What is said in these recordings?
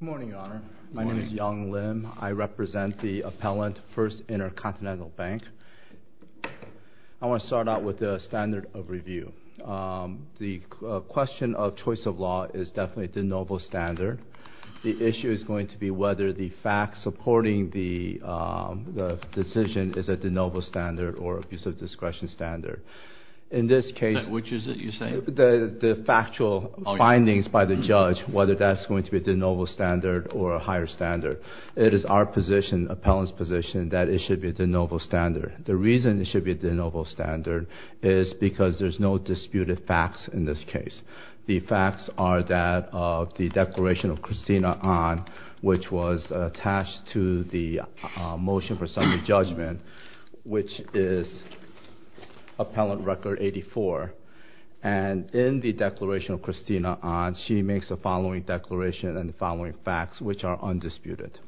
Good morning, Your Honor. My name is Young Lim. I represent the appellant, First Intercontinental Bank. I want to start out with the standard of review. The question of choice of law is definitely de novo standard. The issue is going to be whether the facts supporting the decision is a de novo standard or abuse of discretion standard. In this case, the factual findings by the judge, whether that's going to be a de novo standard or a higher standard, it is our position, the appellant's position, that it should be a de novo standard. The reason it should be a de novo standard is because there's no disputed facts in this case. The facts are that of the declaration of Christina Ahn, which was attached to the motion for summary judgment, which is Appellant Record 84. And in the declaration of Christina Ahn, she makes the following declaration and the following facts, which are undisputed.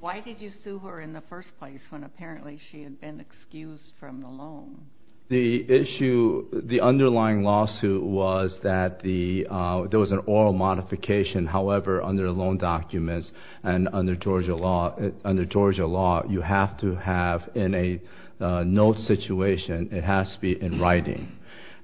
Why did you sue her in the first place when apparently she had been excused from the loan? The underlying lawsuit was that there was an oral modification. However, under loan documents and under Georgia law, you have to have in a note situation, it has to be in writing.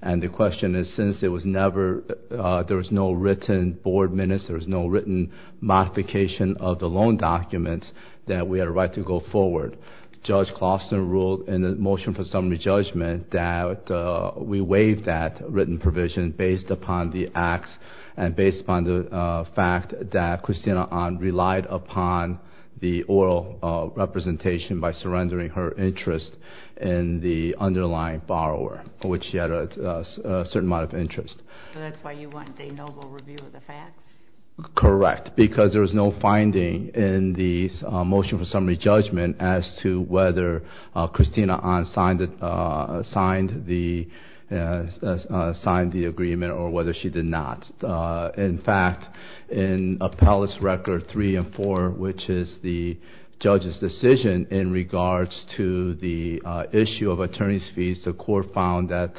And the question is, since there was no written board minutes, there was no written modification of the loan documents, that we had a right to go forward. Judge Clauston ruled in the motion for summary judgment that we waived that written provision based upon the acts and based upon the fact that Christina Ahn relied upon the oral representation by surrendering her interest in the underlying borrower, which she had a certain amount of interest. So that's why you want de novo review of the facts? Correct, because there was no finding in the motion for summary judgment as to whether Christina Ahn signed the agreement or whether she did not. In fact, in appellate's record three and four, which is the judge's decision in regards to the issue of attorney's fees, the court found that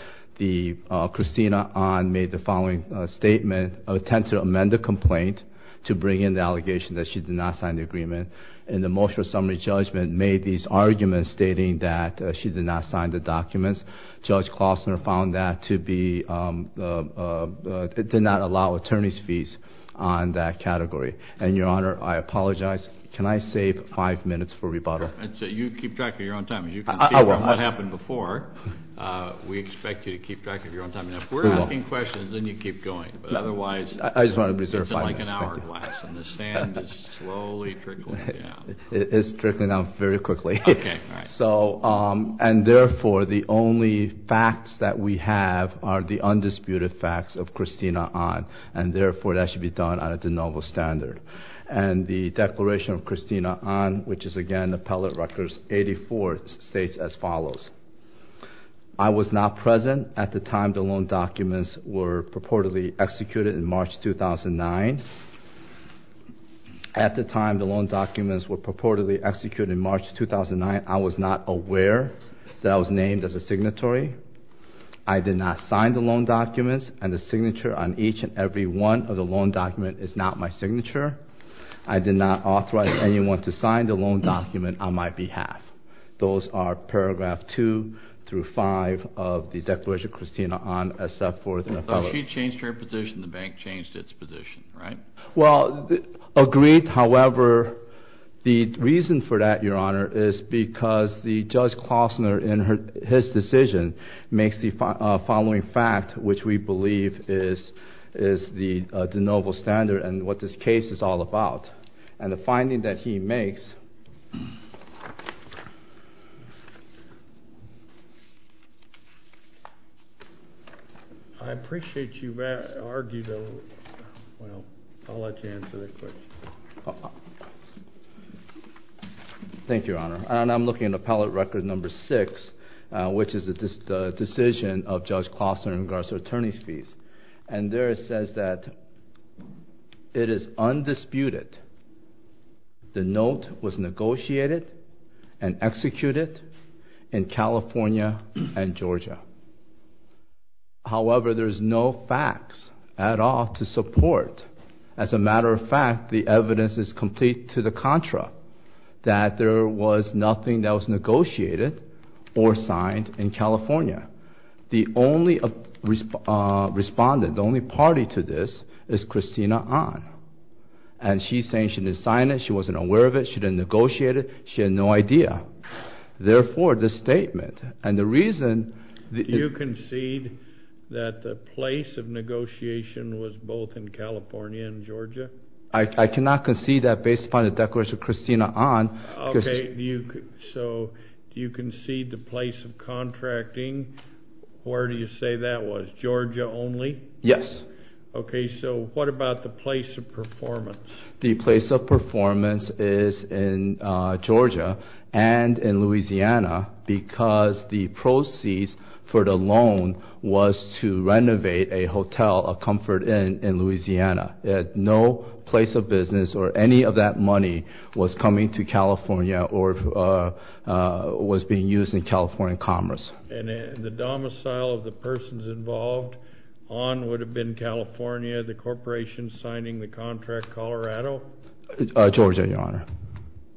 Christina Ahn made the following statement of intent to amend the complaint to bring in the allegation that she did not sign the agreement. And the motion for summary judgment made these arguments stating that she did not sign the documents. Judge Clauston found that to be, did not allow attorney's fees on that category. And your honor, I apologize. Can I save five minutes for rebuttal? And so you keep track of your own time. As you can see from what happened before, we expect you to keep track of your own time. And if we're asking questions, then you keep going, but otherwise, it's like an hourglass and the sand is slowly trickling down. It's trickling down very quickly. So, um, and therefore the only facts that we have are the undisputed facts of Christina Ahn, and therefore that should be done on a de novo standard. And the declaration of Christina Ahn, which is again, appellate records 84 states as follows. I was not present at the time the loan documents were purportedly executed in March, 2009. At the time the loan documents were purportedly executed in March, 2009, I was not aware that I was named as a signatory. I did not sign the loan documents and the signature on each and every one of the loan document is not my signature. I did not authorize anyone to sign the loan document on my behalf. Those are paragraph two through five of the declaration of Christina Ahn except for the appellate. She changed her position. The bank changed its position, right? Well, agreed. However, the reason for that, your honor, is because the judge Klausner in her, his decision makes the following fact, which we believe is, is the de novo standard and what this case is all about and the finding that he makes. I appreciate you've argued, well, I'll let you answer the question. Thank you, your honor. And I'm looking at appellate record number six, which is the decision of Judge Klausner in regards to attorney's fees. And there it says that it is undisputed the note was negotiated and executed in California and Georgia. However, there's no facts at all to support. As a matter of fact, the evidence is complete to the contra that there was nothing that was negotiated or signed in California. The only respondent, the only party to this is Christina Ahn. And she's saying she didn't sign it. She wasn't aware of it. She didn't negotiate it. She had no idea. Therefore, this statement and the reason. Do you concede that the place of negotiation was both in California and Georgia? I cannot concede that based upon the declaration of Christina Ahn. Okay. So do you concede the place of contracting? Where do you say that was? Georgia only? Yes. Okay. So what about the place of performance? The place of performance is in Georgia and in Louisiana because the proceeds for the loan was to renovate a hotel, a comfort inn in Louisiana. No place of business or any of that money was coming to California or was being used in California commerce. And the domicile of the persons involved on would have been California, the corporation signing the contract, Colorado? Georgia, Your Honor.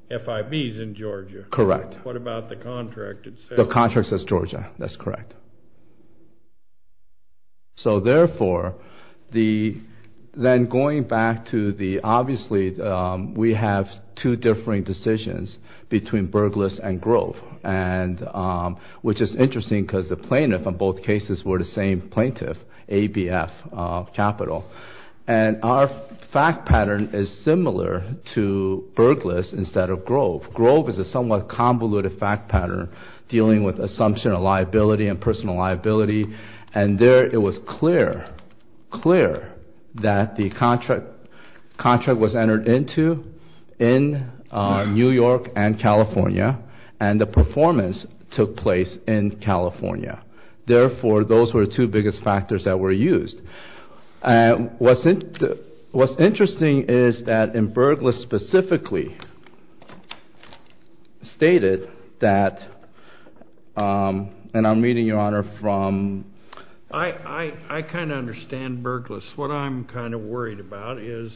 FIB's in Georgia? Correct. What about the contract itself? The contract says Georgia. That's correct. So therefore, then going back to the obviously we have two differing decisions between Berglas and Grove, which is interesting because the plaintiff in both cases were the same plaintiff, ABF Capital. And our fact pattern is similar to Berglas instead of Grove. Grove is a somewhat convoluted fact pattern dealing with assumption of liability and personal liability, and there it was clear, clear that the contract was entered into in New York and California, and the performance took place in California. Therefore, those were the two biggest factors that were used. What's interesting is that Berglas specifically stated that, and I'm reading, Your Honor, from... I kind of understand Berglas. What I'm kind of worried about is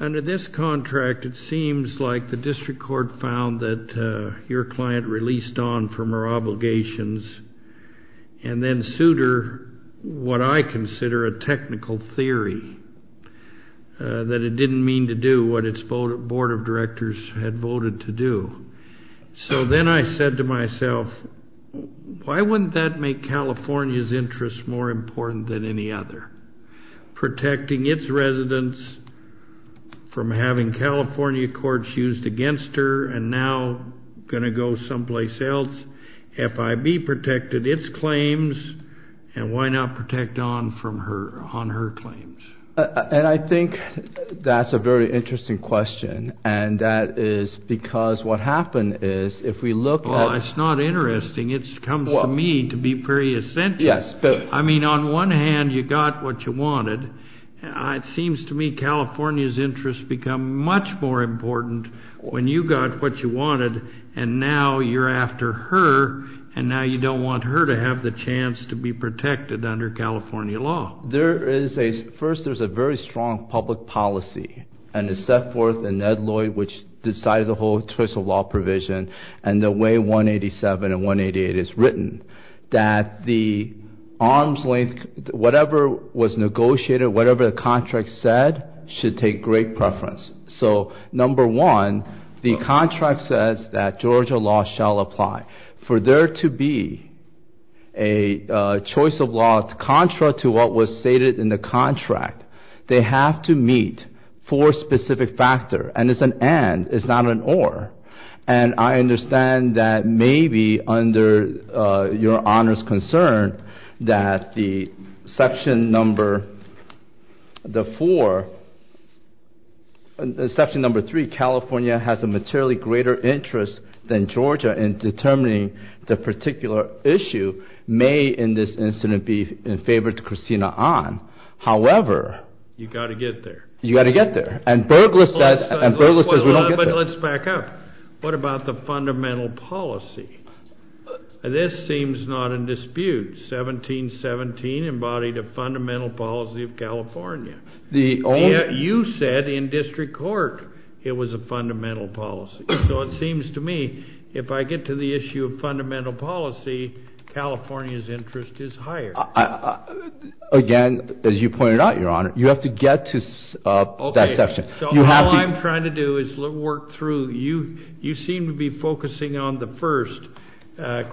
under this contract, it seems like the district court found that your client released on from her obligations and then sued her what I consider a technical theory, that it didn't mean to do what its board of directors had voted to do. So then I said to myself, Why wouldn't that make California's interests more important than any other? Protecting its residents from having California courts used against her and now going to go someplace else, FIB protected its claims, and why not protect on her claims? And I think that's a very interesting question, and that is because what happened is if we look at... Well, it's not interesting. It comes to me to be very essential. I mean, on one hand, you got what you wanted. It seems to me California's interests become much more important when you got what you wanted, and now you're after her, and now you don't want her to have the chance to be protected under California law. First, there's a very strong public policy, and it's set forth in Ed Lloyd, which decided the whole choice of law provision, and the way 187 and 188 is written, that the arms link, whatever was negotiated, whatever the contract said, should take great preference. So number one, the contract says that Georgia law shall apply. For there to be a choice of law contra to what was stated in the contract, they have to meet four specific factors, and it's an and, it's not an or. And I understand that maybe under your honor's concern that the section number, the four, section number three, California has a materially greater interest than Georgia in determining the particular issue may in this incident be in favor to Christina Ahn. However... You've got to get there. You've got to get there. And Berglas says we don't get there. But let's back up. What about the fundamental policy? This seems not in dispute. 1717 embodied a fundamental policy of California. You said in district court it was a fundamental policy. So it seems to me if I get to the issue of fundamental policy, California's interest is higher. Again, as you pointed out, your honor, you have to get to that section. So all I'm trying to do is work through. You seem to be focusing on the first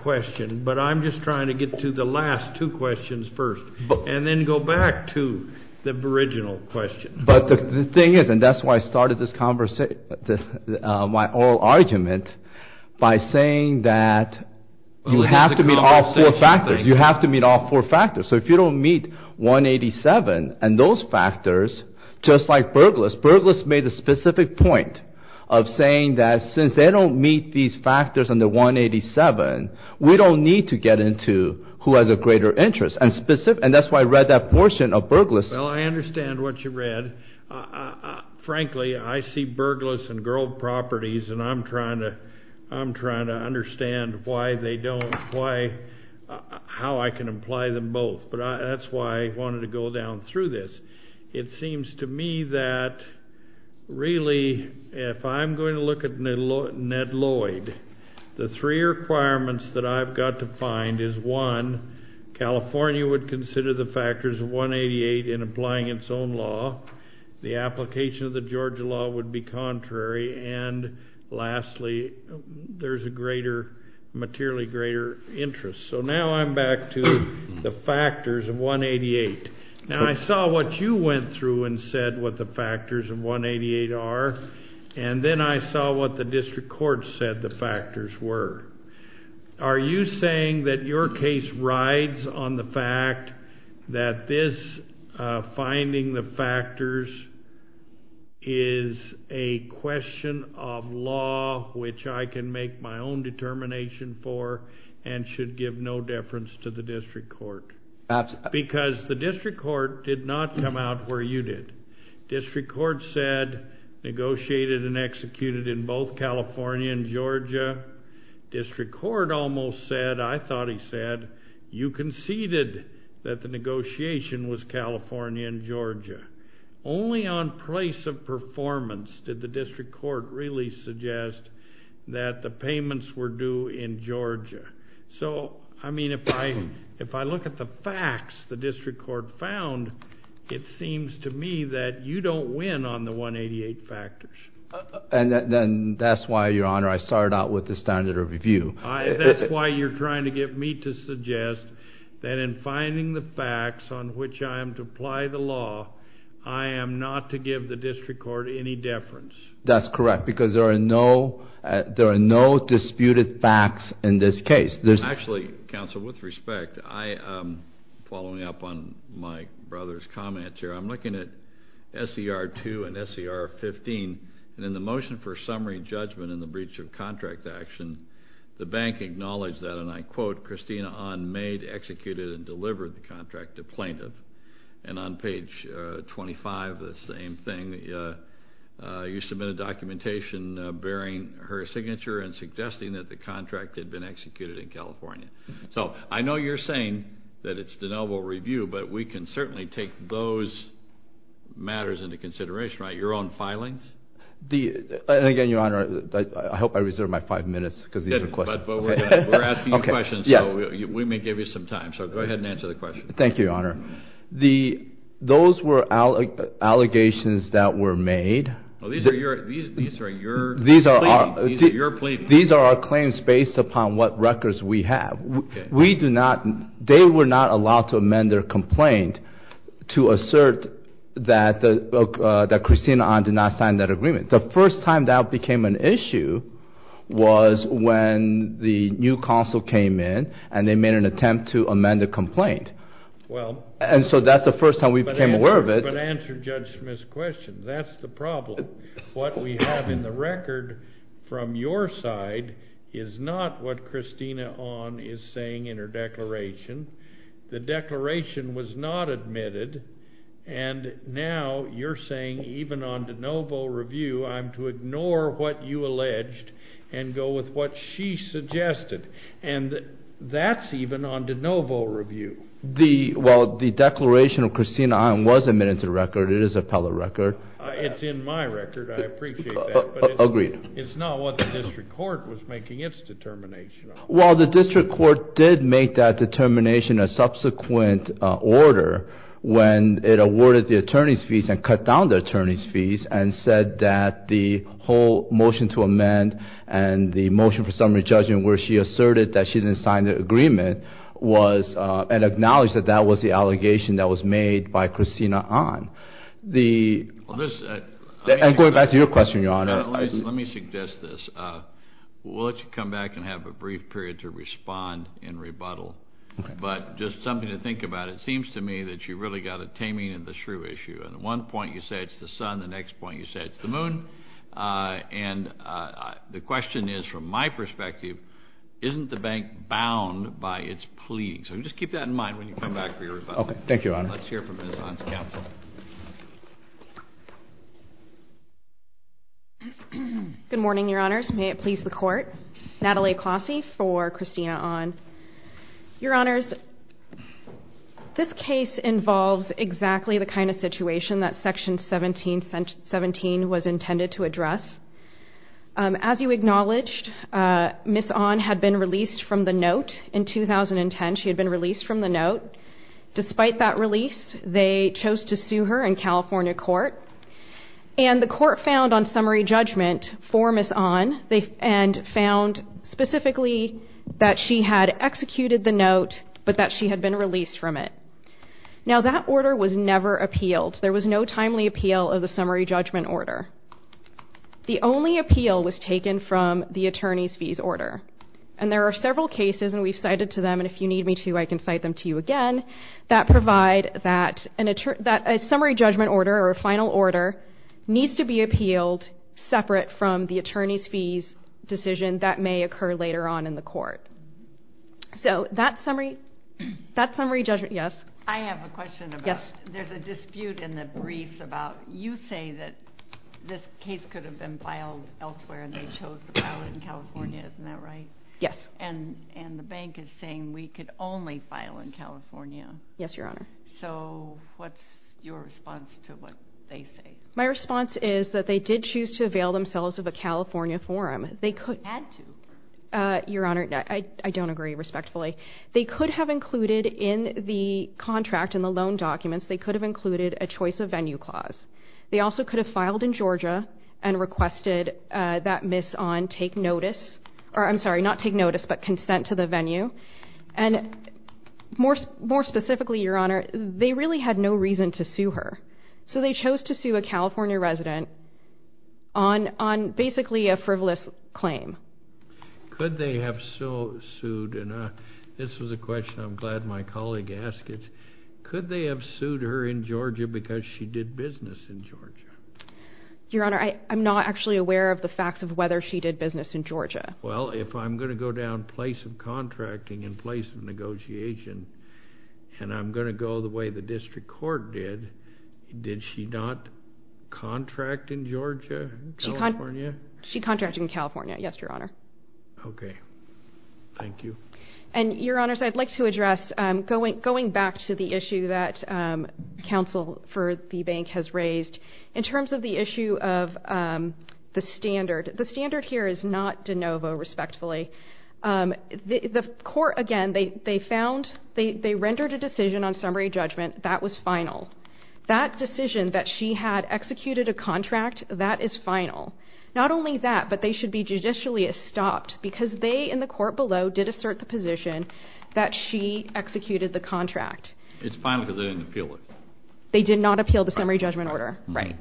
question, but I'm just trying to get to the last two questions first and then go back to the original question. But the thing is, and that's why I started this oral argument, by saying that you have to meet all four factors. You have to meet all four factors. So if you don't meet 187 and those factors, just like Berglas, Berglas made a specific point of saying that since they don't meet these factors under 187, we don't need to get into who has a greater interest. And that's why I read that portion of Berglas. Well, I understand what you read. Frankly, I see Berglas and Grove Properties, and I'm trying to understand why they don't apply, how I can apply them both. But that's why I wanted to go down through this. It seems to me that really if I'm going to look at Ned Lloyd, the three requirements that I've got to find is, one, California would consider the factors of 188 in applying its own law. The application of the Georgia law would be contrary. And lastly, there's a materially greater interest. So now I'm back to the factors of 188. Now, I saw what you went through and said what the factors of 188 are, and then I saw what the district court said the factors were. Are you saying that your case rides on the fact that this finding the factors is a question of law which I can make my own determination for and should give no deference to the district court? Because the district court did not come out where you did. District court said negotiated and executed in both California and Georgia. District court almost said, I thought he said, you conceded that the negotiation was California and Georgia. Only on place of performance did the district court really suggest that the payments were due in Georgia. So, I mean, if I look at the facts the district court found, it seems to me that you don't win on the 188 factors. And that's why, Your Honor, I started out with the standard of review. That's why you're trying to get me to suggest that in finding the facts on which I am to apply the law, I am not to give the district court any deference. That's correct, because there are no disputed facts in this case. Actually, counsel, with respect, following up on my brother's comment here, I'm looking at SER 2 and SER 15. And in the motion for summary judgment in the breach of contract action, the bank acknowledged that, and I quote, Christina Ahn made, executed, and delivered the contract to plaintiff. And on page 25, the same thing. You submit a documentation bearing her signature and suggesting that the contract had been executed in California. So I know you're saying that it's de novo review, but we can certainly take those matters into consideration, right? Your own filings? And again, Your Honor, I hope I reserve my five minutes because these are questions. But we're asking you questions, so we may give you some time. So go ahead and answer the question. Thank you, Your Honor. Those were allegations that were made. These are your claims. These are our claims based upon what records we have. They were not allowed to amend their complaint to assert that Christina Ahn did not sign that agreement. The first time that became an issue was when the new counsel came in and they made an attempt to amend the complaint. And so that's the first time we became aware of it. But answer Judge Smith's question. That's the problem. What we have in the record from your side is not what Christina Ahn is saying in her declaration. The declaration was not admitted. And now you're saying even on de novo review I'm to ignore what you alleged and go with what she suggested. And that's even on de novo review. Well, the declaration of Christina Ahn was admitted to the record. It is appellate record. It's in my record. I appreciate that. Agreed. It's not what the district court was making its determination on. Well, the district court did make that determination a subsequent order when it awarded the attorney's fees and cut down the attorney's fees and said that the whole motion to amend and the motion for summary judgment where she asserted that she didn't sign the agreement was and acknowledged that that was the allegation that was made by Christina Ahn. And going back to your question, Your Honor. Let me suggest this. We'll let you come back and have a brief period to respond in rebuttal. But just something to think about. It seems to me that you really got a taming of the shrew issue. And at one point you say it's the sun. The next point you say it's the moon. And the question is, from my perspective, isn't the bank bound by its pleading? So just keep that in mind when you come back for your rebuttal. Thank you, Your Honor. Let's hear from Ms. Ahn's counsel. Good morning, Your Honors. May it please the Court. Natalie Clossie for Christina Ahn. Your Honors, this case involves exactly the kind of situation that Section 1717 was intended to address. As you acknowledged, Ms. Ahn had been released from the note in 2010. She had been released from the note. Despite that release, they chose to sue her in California court. And the court found on summary judgment for Ms. Ahn, and found specifically that she had executed the note but that she had been released from it. Now, that order was never appealed. There was no timely appeal of the summary judgment order. The only appeal was taken from the attorney's fees order. And there are several cases, and we've cited to them, and if you need me to, I can cite them to you again, that provide that a summary judgment order, or a final order, needs to be appealed separate from the attorney's fees decision that may occur later on in the court. So that summary judgment, yes? I have a question about, there's a dispute in the briefs about, you say that this case could have been filed elsewhere, and they chose to file it in California, isn't that right? Yes. And the bank is saying we could only file in California. Yes, Your Honor. So what's your response to what they say? My response is that they did choose to avail themselves of a California forum. They had to. Your Honor, I don't agree respectfully. They could have included in the contract, in the loan documents, they could have included a choice of venue clause. They also could have filed in Georgia and requested that Ms. Ahn take notice, or I'm sorry, not take notice, but consent to the venue. And more specifically, Your Honor, they really had no reason to sue her. So they chose to sue a California resident on basically a frivolous claim. Could they have sued, and this was a question I'm glad my colleague asked it, could they have sued her in Georgia because she did business in Georgia? Your Honor, I'm not actually aware of the facts of whether she did business in Georgia. Well, if I'm going to go down place of contracting and place of negotiation, and I'm going to go the way the district court did, did she not contract in Georgia, California? She contracted in California, yes, Your Honor. Okay. Thank you. And, Your Honors, I'd like to address, going back to the issue that counsel for the bank has raised, in terms of the issue of the standard, the standard here is not de novo, respectfully. The court, again, they found, they rendered a decision on summary judgment that was final. That decision that she had executed a contract, that is final. Not only that, but they should be judicially stopped because they, in the court below, did assert the position that she executed the contract. It's final because they didn't appeal it. They did not appeal the summary judgment order. Right.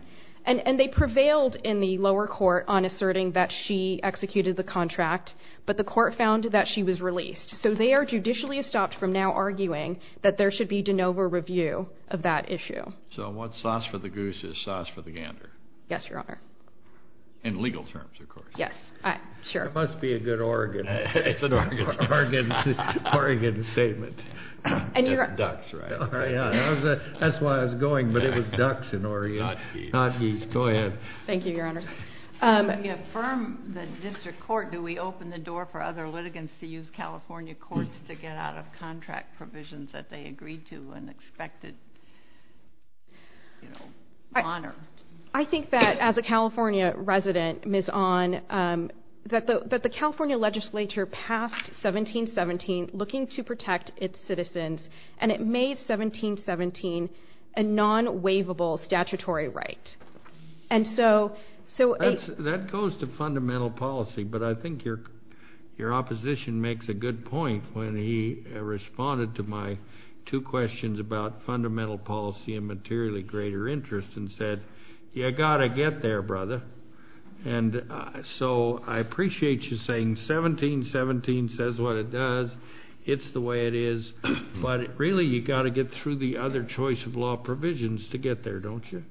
And they prevailed in the lower court on asserting that she executed the contract, but the court found that she was released. So they are judicially stopped from now arguing that there should be de novo review of that issue. So what's sauce for the goose is sauce for the gander. Yes, Your Honor. In legal terms, of course. Yes. Sure. It must be a good Oregon. It's an Oregon statement. Ducks, right? That's why I was going, but it was ducks in Oregon. Not geese. Not geese. Go ahead. Thank you, Your Honors. When you affirm the district court, do we open the door for other litigants to use California courts to get out of contract provisions that they agreed to and expected, you know, honored? I think that as a California resident, Ms. Ahn, that the California legislature passed 1717, looking to protect its citizens, and it made 1717 a non-waivable statutory right. And so – That goes to fundamental policy, but I think your opposition makes a good point when he responded to my two questions about fundamental policy and materially greater interest and said, you've got to get there, brother. And so I appreciate you saying 1717 says what it does, it's the way it is, but really you've got to get through the other choice of law provisions to get there, don't you?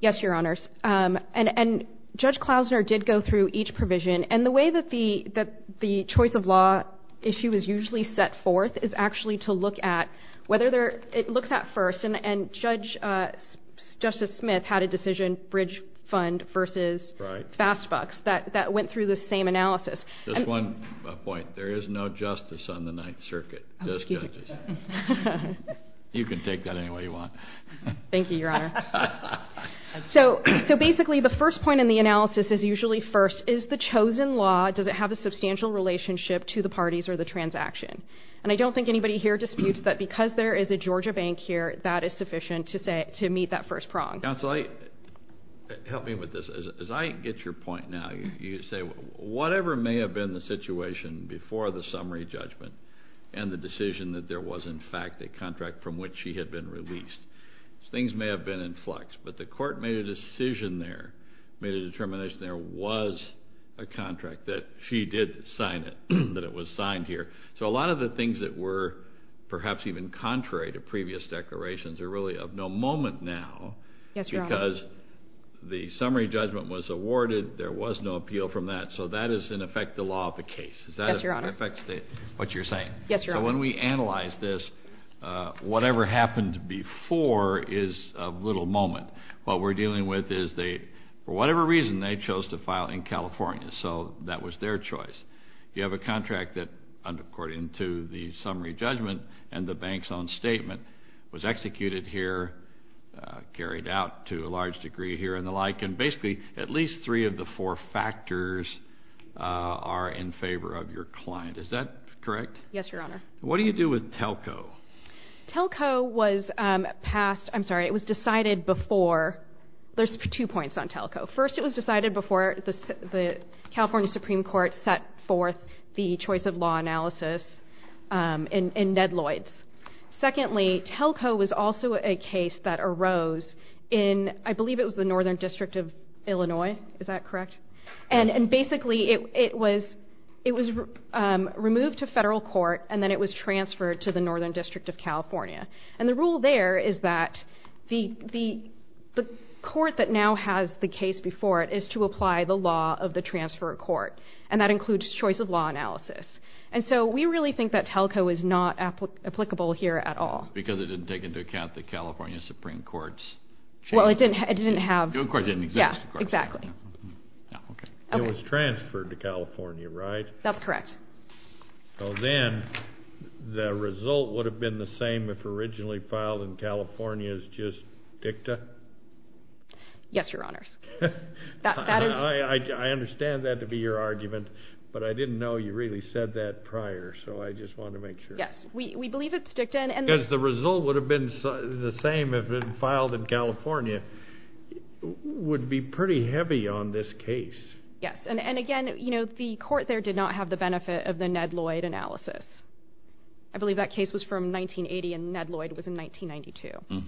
Yes, Your Honors. And Judge Klausner did go through each provision. And the way that the choice of law issue is usually set forth is actually to look at whether there – it looks at first, and Judge – Justice Smith had a decision, bridge fund versus fast bucks, that went through the same analysis. Just one point. There is no justice on the Ninth Circuit. Oh, excuse me. You can take that any way you want. Thank you, Your Honor. So basically the first point in the analysis is usually first, is the chosen law, does it have a substantial relationship to the parties or the transaction? And I don't think anybody here disputes that because there is a Georgia bank here, that is sufficient to meet that first prong. Counsel, help me with this. As I get your point now, you say whatever may have been the situation before the summary judgment and the decision that there was in fact a contract from which she had been released, things may have been in flux, but the court made a decision there, made a determination there was a contract that she did sign it, that it was signed here. So a lot of the things that were perhaps even contrary to previous declarations are really of no moment now because the summary judgment was awarded, there was no appeal from that, so that is in effect the law of the case. Yes, Your Honor. Yes, Your Honor. So when we analyze this, whatever happened before is of little moment. What we're dealing with is they, for whatever reason, they chose to file in California, so that was their choice. You have a contract that, according to the summary judgment and the bank's own statement, was executed here, carried out to a large degree here and the like, and basically at least three of the four factors are in favor of your client. Is that correct? Yes, Your Honor. What do you do with Telco? Telco was passed, I'm sorry, it was decided before. There's two points on Telco. First, it was decided before the California Supreme Court set forth the choice of law analysis in Ned Lloyd's. Secondly, Telco was also a case that arose in, I believe it was the Northern District of Illinois. Is that correct? That's correct. And basically it was removed to federal court and then it was transferred to the Northern District of California. And the rule there is that the court that now has the case before it is to apply the law of the transfer of court, and that includes choice of law analysis. And so we really think that Telco is not applicable here at all. Because it didn't take into account the California Supreme Court's change? Well, it didn't have. The Supreme Court didn't exist, of course. Exactly. It was transferred to California, right? That's correct. So then the result would have been the same if originally filed in California as just DICTA? Yes, Your Honors. I understand that to be your argument, but I didn't know you really said that prior, so I just wanted to make sure. Yes, we believe it's DICTA. Because the result would have been the same if it had been filed in California would be pretty heavy on this case. Yes, and again, the court there did not have the benefit of the Ned Lloyd analysis. I believe that case was from 1980 and Ned Lloyd was in 1992.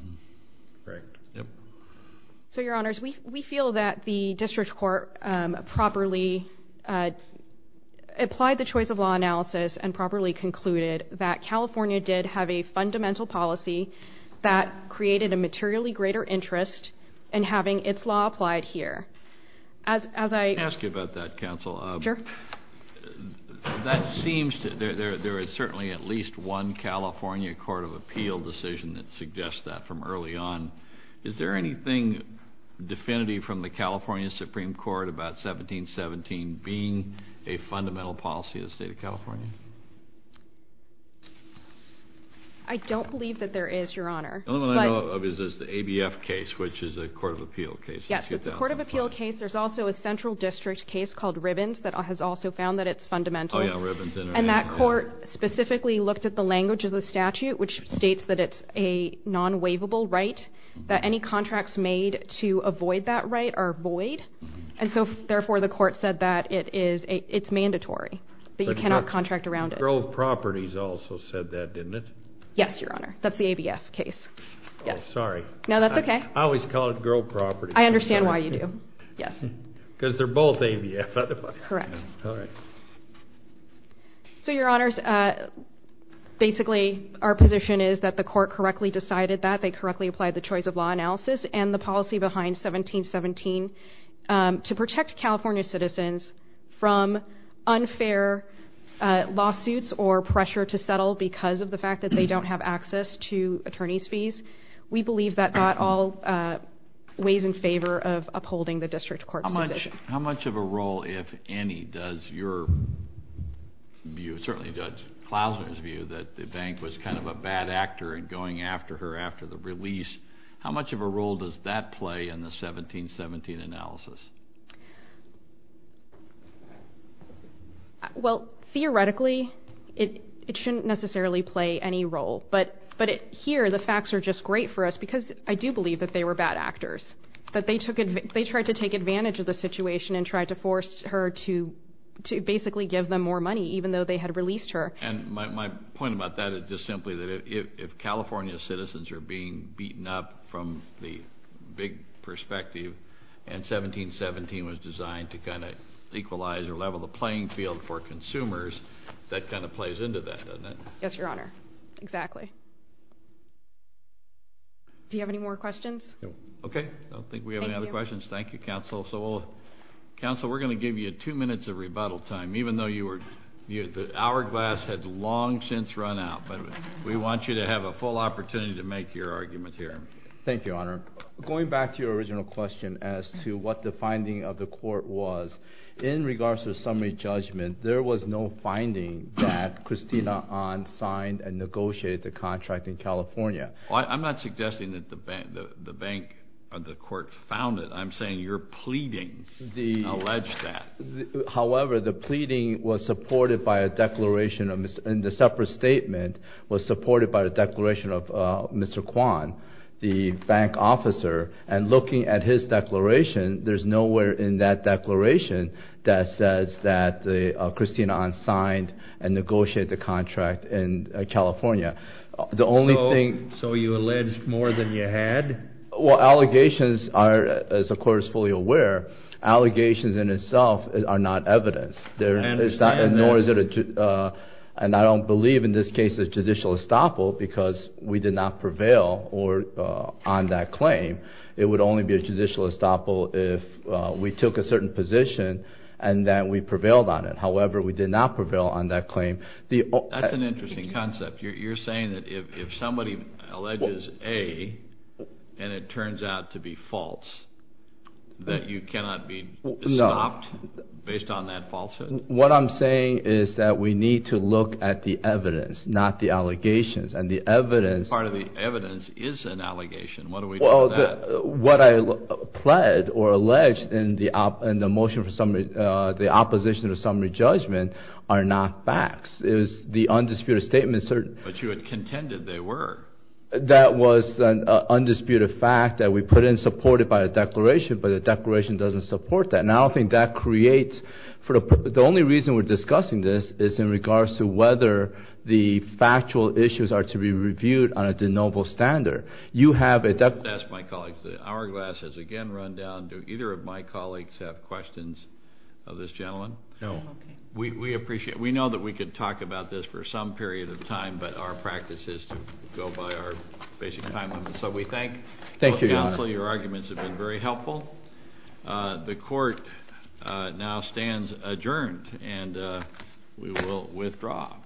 Correct. So, Your Honors, we feel that the district court properly applied the choice of law analysis and properly concluded that California did have a fundamental policy that created a materially greater interest in having its law applied here. Can I ask you about that, Counsel? Sure. There is certainly at least one California Court of Appeal decision that suggests that from early on. Is there anything definitive from the California Supreme Court about 1717 being a fundamental policy of the state of California? I don't believe that there is, Your Honor. The only one I know of is the ABF case, which is a Court of Appeal case. Yes, it's a Court of Appeal case. There's also a central district case called Ribbons that has also found that it's fundamental. And that court specifically looked at the language of the statute, which states that it's a non-waivable right, that any contracts made to avoid that right are void. And so, therefore, the court said that it's mandatory, that you cannot contract around it. Grove Properties also said that, didn't it? Yes, Your Honor. That's the ABF case. Oh, sorry. No, that's okay. I always call it Grove Properties. I understand why you do. Yes. Because they're both ABF, otherwise. Correct. All right. So, Your Honors, basically, our position is that the court correctly decided that. They correctly applied the choice of law analysis and the policy behind 1717 to protect California citizens from unfair lawsuits or pressure to settle because of the fact that they don't have access to attorney's fees. We believe that that all weighs in favor of upholding the district court's position. How much of a role, if any, does your view, certainly Judge Klausner's view, that the bank was kind of a bad actor in going after her after the release, how much of a role does that play in the 1717 analysis? Well, theoretically, it shouldn't necessarily play any role. But here, the facts are just great for us because I do believe that they were bad actors, that they tried to take advantage of the situation and tried to force her to basically give them more money, even though they had released her. And my point about that is just simply that if California citizens are being beaten up from the big perspective and 1717 was designed to kind of equalize or level the playing field for consumers, that kind of plays into that, doesn't it? Yes, Your Honor. Exactly. Do you have any more questions? No. Okay. I don't think we have any other questions. Thank you, Counsel. Counsel, we're going to give you two minutes of rebuttal time, even though the hourglass has long since run out, but we want you to have a full opportunity to make your argument here. Thank you, Your Honor. Going back to your original question as to what the finding of the court was, in regards to the summary judgment, there was no finding that Christina Ahn signed and negotiated the contract in California. I'm not suggesting that the court found it. I'm saying you're pleading to allege that. However, the pleading was supported by a declaration of Mr. – and the separate statement was supported by a declaration of Mr. Kwon, the bank officer, and looking at his declaration, there's nowhere in that declaration that says that Christina Ahn signed and negotiated the contract in California. So you alleged more than you had? Well, allegations are, as the court is fully aware, allegations in itself are not evidence. I understand that. Nor is it a – and I don't believe in this case a judicial estoppel because we did not prevail on that claim. It would only be a judicial estoppel if we took a certain position and then we prevailed on it. However, we did not prevail on that claim. That's an interesting concept. You're saying that if somebody alleges A and it turns out to be false, that you cannot be stopped based on that falsehood? What I'm saying is that we need to look at the evidence, not the allegations. And the evidence – Part of the evidence is an allegation. What do we do with that? What I pled or alleged in the motion for the opposition to the summary judgment are not facts. It was the undisputed statement – But you had contended they were. That was an undisputed fact that we put in support of by a declaration, but the declaration doesn't support that. And I don't think that creates – the only reason we're discussing this is in regards to whether the factual issues are to be reviewed on a de novo standard. You have a – That's my colleagues. The hourglass has again run down. Do either of my colleagues have questions of this gentleman? No. We appreciate – we know that we could talk about this for some period of time, but our practice is to go by our basic time limits. So we thank – Thank you, Your Honor. Your arguments have been very helpful. The court now stands adjourned and we will withdraw.